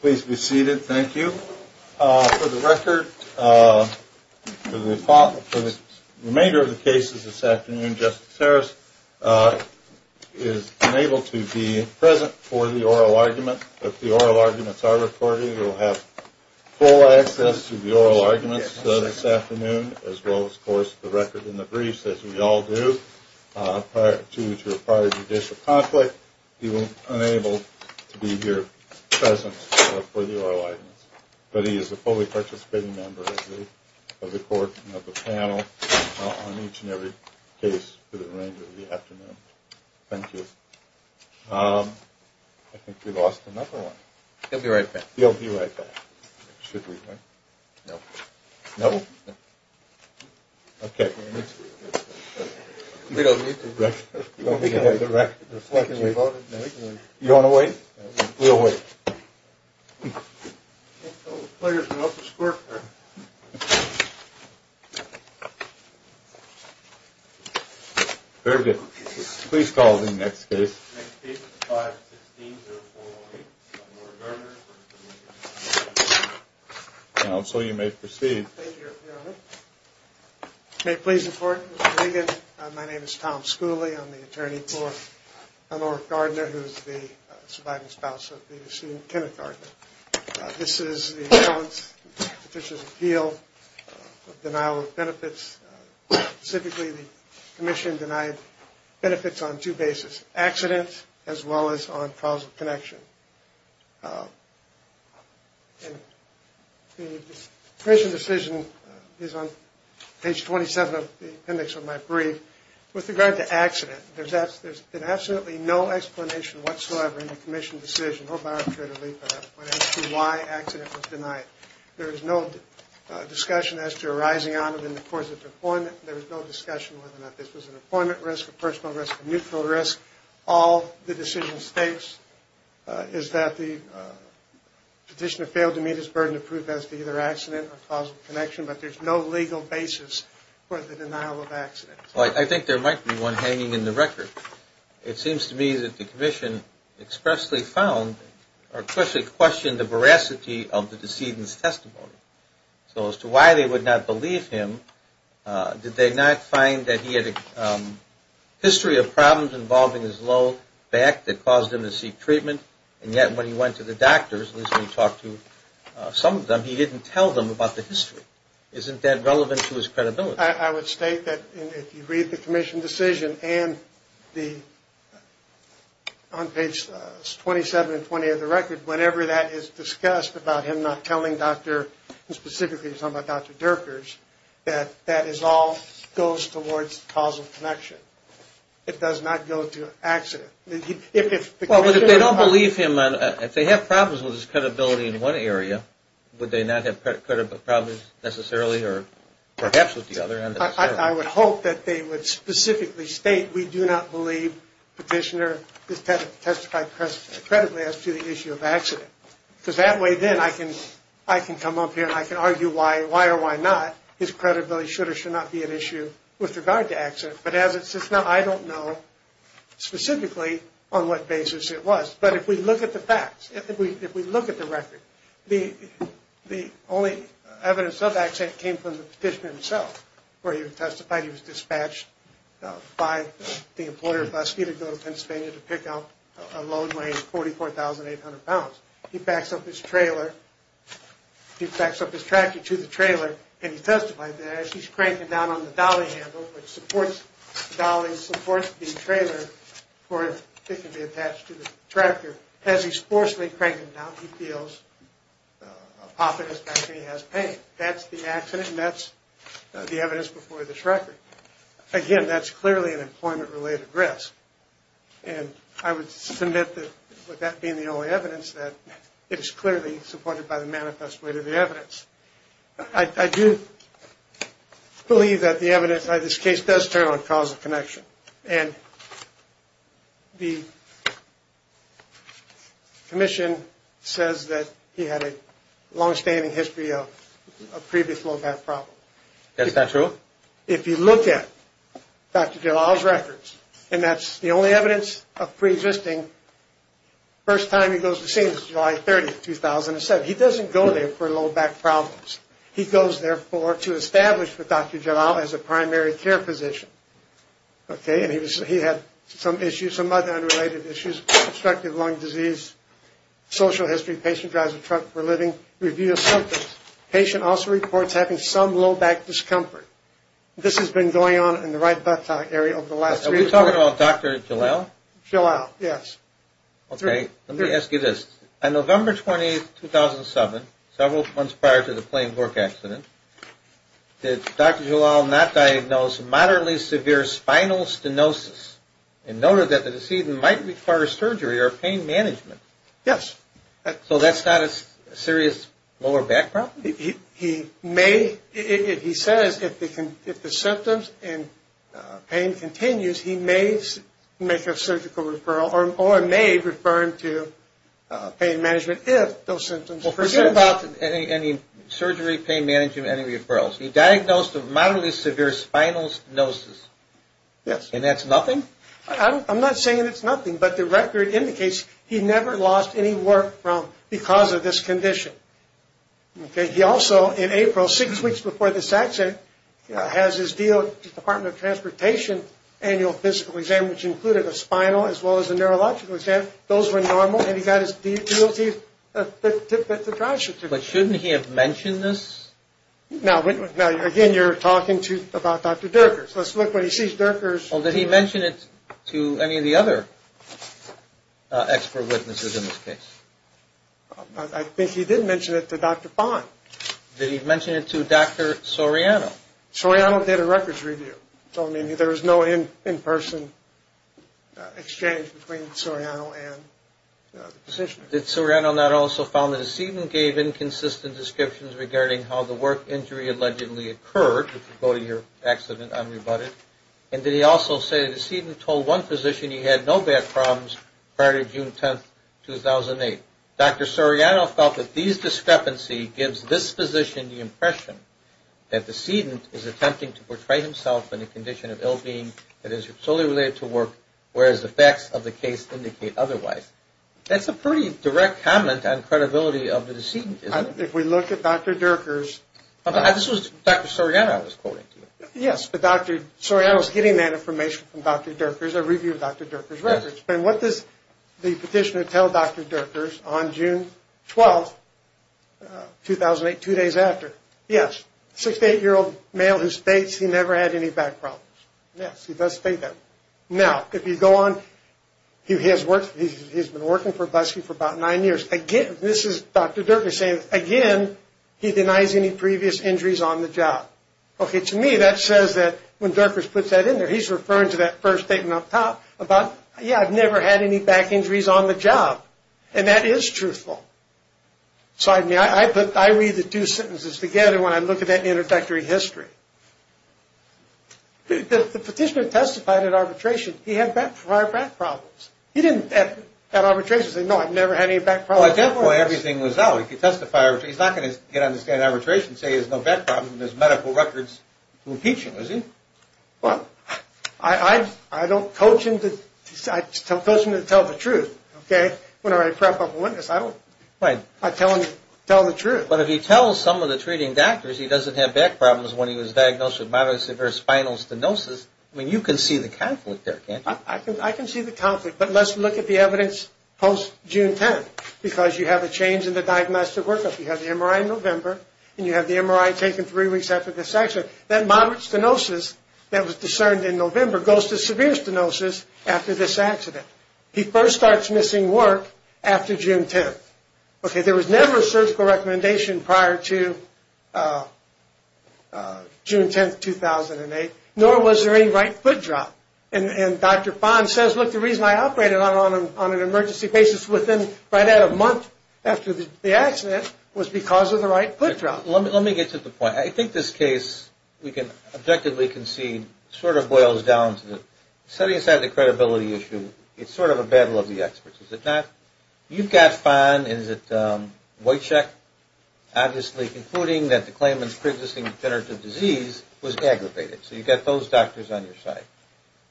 Please be seated. Thank you. For the record, for the remainder of the cases this afternoon, Justice Harris has been able to be present for the oral argument. If the oral arguments are recorded, you will have full access to the oral arguments this afternoon, as well as, of course, the record and the briefs, as we all do. Prior to the judicial conflict, he was unable to be here present for the oral arguments. But he is a fully participating member of the court and of the panel on each and every case for the remainder of the afternoon. Thank you. I think we lost another one. He'll be right back. He'll be right back. Should we wait? No. No? Okay. We don't need to. You want to wait? We'll wait. I think the players went up to squirt. Very good. Please call the next case. Next case is 5-16-0-4-1-8. So you may proceed. Thank you. May it please the Court, Mr. Regan. My name is Tom Schooley. I'm the attorney for Eleanor Gardner, who is the surviving spouse of the deceased Kenneth Gardner. This is the Appellant's Petitioner's Appeal of Denial of Benefits. Specifically, the commission denied benefits on two bases, accident as well as on causal connection. And the commission decision is on page 27 of the appendix of my brief. With regard to accident, there's been absolutely no explanation whatsoever in the commission decision, hope I don't create a leap at that point, as to why accident was denied. There is no discussion as to arising out of it in the course of deployment. There is no discussion whether or not this was an employment risk, a personal risk, a mutual risk. All the decision states is that the petitioner failed to meet his burden of proof as to either accident or causal connection, but there's no legal basis for the denial of accident. I think there might be one hanging in the record. It seems to me that the commission expressly questioned the veracity of the decedent's testimony. So as to why they would not believe him, did they not find that he had a history of problems involving his low back that caused him to seek treatment, and yet when he went to the doctors, at least when he talked to some of them, he didn't tell them about the history. Isn't that relevant to his credibility? I would state that if you read the commission decision and on page 27 and 28 of the record, whenever that is discussed about him not telling Dr. and specifically talking about Dr. Dirkers, that that all goes towards causal connection. It does not go to accident. Well, if they don't believe him, if they have problems with his credibility in one area, would they not have problems necessarily or perhaps with the other? I would hope that they would specifically state, we do not believe the petitioner testified credibly as to the issue of accident. Because that way then I can come up here and I can argue why or why not his credibility should or should not be an issue with regard to accident. But as it sits now, I don't know specifically on what basis it was. But if we look at the facts, if we look at the record, the only evidence of accident came from the petitioner himself, where he testified he was dispatched by the employer of Buzzfeed to go to Pennsylvania to pick up a load weighing 44,800 pounds. He packs up his trailer, he packs up his tractor to the trailer and he testified there. As he's cranking down on the dolly handle, which supports the dolly, supports the trailer for it to be attached to the tractor, as he's forcibly cranking down, he feels a pop in his back and he has pain. That's the accident and that's the evidence before this record. Again, that's clearly an employment-related risk. And I would submit that with that being the only evidence, that it is clearly supported by the manifest weight of the evidence. I do believe that the evidence in this case does turn on cause of connection. And the commission says that he had a longstanding history of previous low back problems. Is that true? If you look at Dr. DeLisle's records, and that's the only evidence of preexisting, first time he goes to the scene is July 30, 2007. He doesn't go there for low back problems. He goes there to establish with Dr. DeLisle as a primary care physician. And he had some issues, some other unrelated issues, obstructive lung disease, social history, patient drives a truck for a living, review of symptoms, patient also reports having some low back discomfort. This has been going on in the right buttock area over the last three years. Are we talking about Dr. DeLisle? DeLisle, yes. Okay, let me ask you this. On November 28, 2007, several months prior to the plane work accident, did Dr. DeLisle not diagnose moderately severe spinal stenosis and noted that the decedent might require surgery or pain management? Yes. So that's not a serious lower back problem? He says if the symptoms and pain continues, he may make a surgical referral or may refer him to pain management if those symptoms persist. Well, forget about any surgery, pain management, any referrals. He diagnosed a moderately severe spinal stenosis. Yes. And that's nothing? I'm not saying it's nothing, but the record indicates he never lost any work because of this condition. Okay. He also, in April, six weeks before this accident, has his DOT, Department of Transportation, annual physical exam, which included a spinal as well as a neurological exam. Those were normal, and he got his DOT, the triage certificate. But shouldn't he have mentioned this? Now, again, you're talking about Dr. Dirkers. Let's look when he sees Dirkers. Well, did he mention it to any of the other expert witnesses in this case? I think he did mention it to Dr. Fong. Did he mention it to Dr. Soriano? Soriano did a records review. So, I mean, there was no in-person exchange between Soriano and the physician. Did Soriano not also found the decedent gave inconsistent descriptions regarding how the work injury allegedly occurred, which would go to your accident unrebutted? And did he also say the decedent told one physician he had no back problems prior to June 10, 2008. Dr. Soriano felt that these discrepancy gives this physician the impression that the decedent is attempting to portray himself in a condition of ill-being that is solely related to work, whereas the facts of the case indicate otherwise. That's a pretty direct comment on credibility of the decedent, isn't it? If we look at Dr. Dirkers. This was Dr. Soriano I was quoting. Yes, but Dr. Soriano is getting that information from Dr. Dirkers, a review of Dr. Dirkers' records. And what does the petitioner tell Dr. Dirkers on June 12, 2008, two days after? Yes, 68-year-old male who states he never had any back problems. Yes, he does state that. Now, if you go on, he has been working for Buskey for about nine years. Again, this is Dr. Dirkers saying, again, he denies any previous injuries on the job. Okay, to me, that says that when Dirkers puts that in there, he's referring to that first statement up top about, yes, I've never had any back injuries on the job. And that is truthful. I read the two sentences together when I look at that introductory history. The petitioner testified at arbitration he had back problems. He didn't at arbitration say, no, I've never had any back problems. Well, at that point, everything was out. He's not going to get on the stand at arbitration and say he has no back problems when there's medical records to impeach him, is he? Well, I don't coach him to tell the truth, okay, when I prep up a witness. I don't tell him to tell the truth. But if he tells some of the treating doctors he doesn't have back problems when he was diagnosed with moderate severe spinal stenosis, I mean, you can see the conflict there, can't you? I can see the conflict. But let's look at the evidence post-June 10th, because you have a change in the diagnostic workup. You have the MRI in November, and you have the MRI taken three weeks after this accident. That moderate stenosis that was discerned in November goes to severe stenosis after this accident. He first starts missing work after June 10th. Okay, there was never a surgical recommendation prior to June 10th, 2008, nor was there any right foot drop. And Dr. Fahn says, look, the reason I operated on an emergency basis right at a month after the accident was because of the right foot drop. Let me get to the point. I think this case, we can objectively concede, sort of boils down to the setting aside the credibility issue, it's sort of a battle of the experts. Is it not? You've got Fahn. Is it Whitecheck? Obviously concluding that the claimant's pre-existing degenerative disease was aggravated. So you've got those doctors on your side.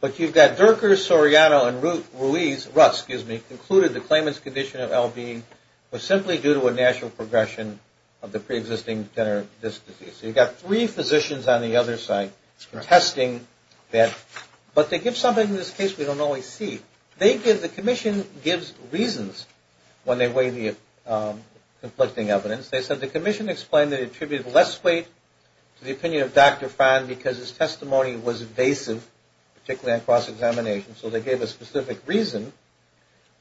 But you've got Durker, Soriano, and Ruth, excuse me, concluded the claimant's condition of LB was simply due to a natural progression of the pre-existing degenerative disease. So you've got three physicians on the other side contesting that. But they give something in this case we don't always see. The commission gives reasons when they weigh the conflicting evidence. They said the commission explained they attributed less weight to the opinion of Dr. Fahn because his testimony was evasive, particularly on cross-examination. So they gave a specific reason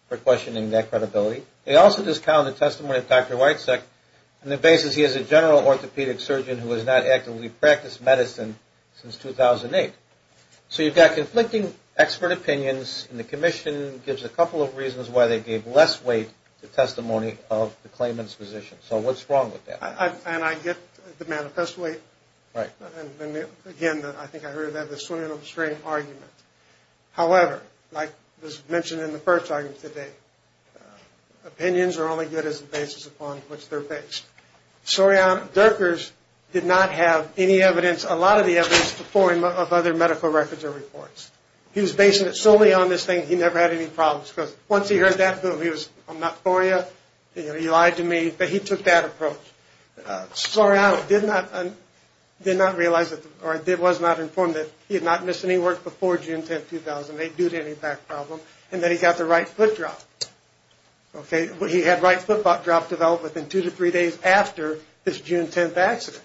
for questioning that credibility. They also discounted the testimony of Dr. Whitecheck on the basis he is a general orthopedic surgeon who has not actively practiced medicine since 2008. So you've got conflicting expert opinions, and the commission gives a couple of reasons why they gave less weight to testimony of the claimant's physician. So what's wrong with that? And I get the manifest weight. Right. And again, I think I heard that, the swimming upstream argument. However, like was mentioned in the first argument today, opinions are only good as a basis upon which they're based. Soriano, Durkers did not have any evidence, a lot of the evidence, to fore him of other medical records or reports. He was basing it solely on this thing. He never had any problems. Once he heard that, boom, he was, I'm not for you, he lied to me. But he took that approach. Soriano did not realize or was not informed that he had not missed any work before June 10, 2008 due to any back problem. And then he got the right foot drop. Okay. He had right foot drop developed within two to three days after this June 10 accident.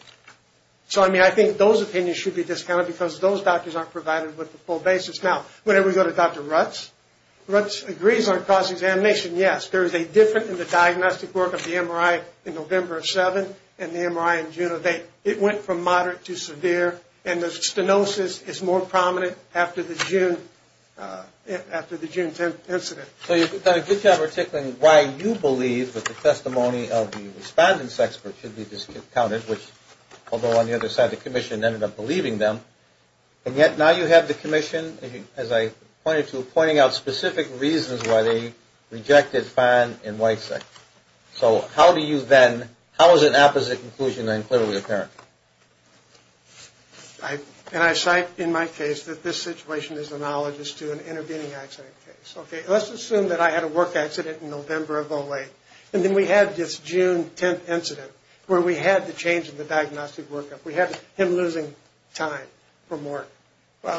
So, I mean, I think those opinions should be discounted because those doctors aren't provided with the full basis. Now, whenever we go to Dr. Rutz, Rutz agrees on cross-examination. Yes, there is a difference in the diagnostic work of the MRI in November of 7 and the MRI in June of 8. It went from moderate to severe. And the stenosis is more prominent after the June 10 incident. So you've done a good job of articulating why you believe that the testimony of the respondent's expert should be discounted, although on the other side the commission ended up believing them. And yet now you have the commission, as I pointed to, pointing out specific reasons why they rejected Farn and Weissach. So how do you then, how is an opposite conclusion then clearly apparent? And I cite in my case that this situation is analogous to an intervening accident case. Okay. Let's assume that I had a work accident in November of 08. And then we had this June 10 incident where we had the change in the diagnostic workup. We had him losing time from work.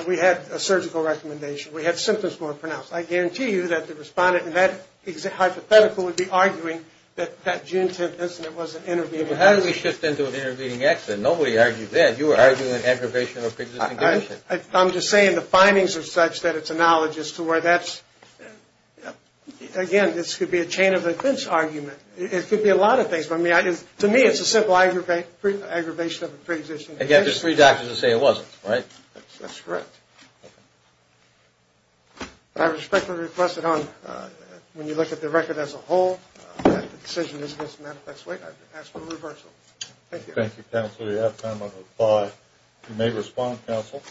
We had a surgical recommendation. We had symptoms more pronounced. I guarantee you that the respondent in that hypothetical would be arguing that that June 10 incident was an intervening accident. But how did we shift into an intervening accident? Nobody argued that. You were arguing an aggravation of existing conditions. I'm just saying the findings are such that it's analogous to where that's, again, this could be a chain of offense argument. It could be a lot of things. But, I mean, to me it's a simple aggravation of a preexisting condition. And yet there's three doctors that say it wasn't, right? That's correct. I respectfully request that when you look at the record as a whole, that the decision isn't as manifest. I ask for a reversal. Thank you. Thank you, Counselor. You have time on the floor. You may respond, Counsel.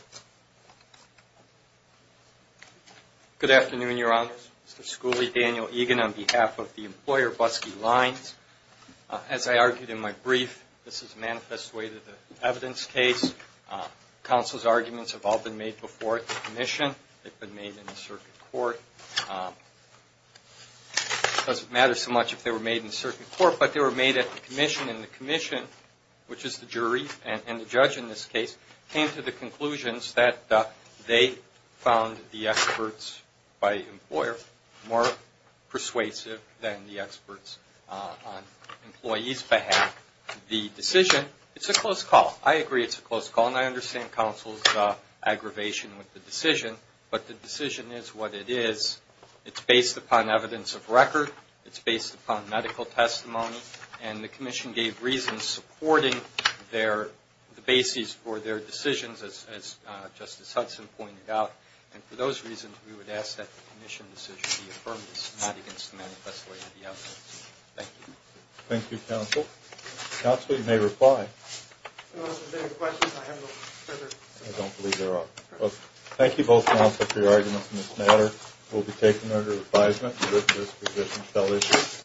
Good afternoon, Your Honors. Mr. Schooley, Daniel Egan on behalf of the employer, Busky Lines. As I argued in my brief, this is a manifest way to the evidence case. Counsel's arguments have all been made before at the commission. They've been made in the circuit court. It doesn't matter so much if they were made in the circuit court, but they were made at the commission. And the commission, which is the jury and the judge in this case, came to the conclusions that they found the experts by employer more persuasive than the experts on employees' behalf. The decision, it's a close call. I agree it's a close call, and I understand Counsel's aggravation with the decision. But the decision is what it is. It's based upon evidence of record. It's based upon medical testimony. And the commission gave reasons supporting the bases for their decisions, as Justice Hudson pointed out. And for those reasons, we would ask that the commission decision be affirmed, not against the manifest way to the evidence. Thank you. Thank you, Counsel. Counsel, you may reply. No, there's no questions. I have no further questions. I don't believe there are. Thank you both, Counsel, for your arguments in this matter. We'll be taking them under advisement. This position shall issue.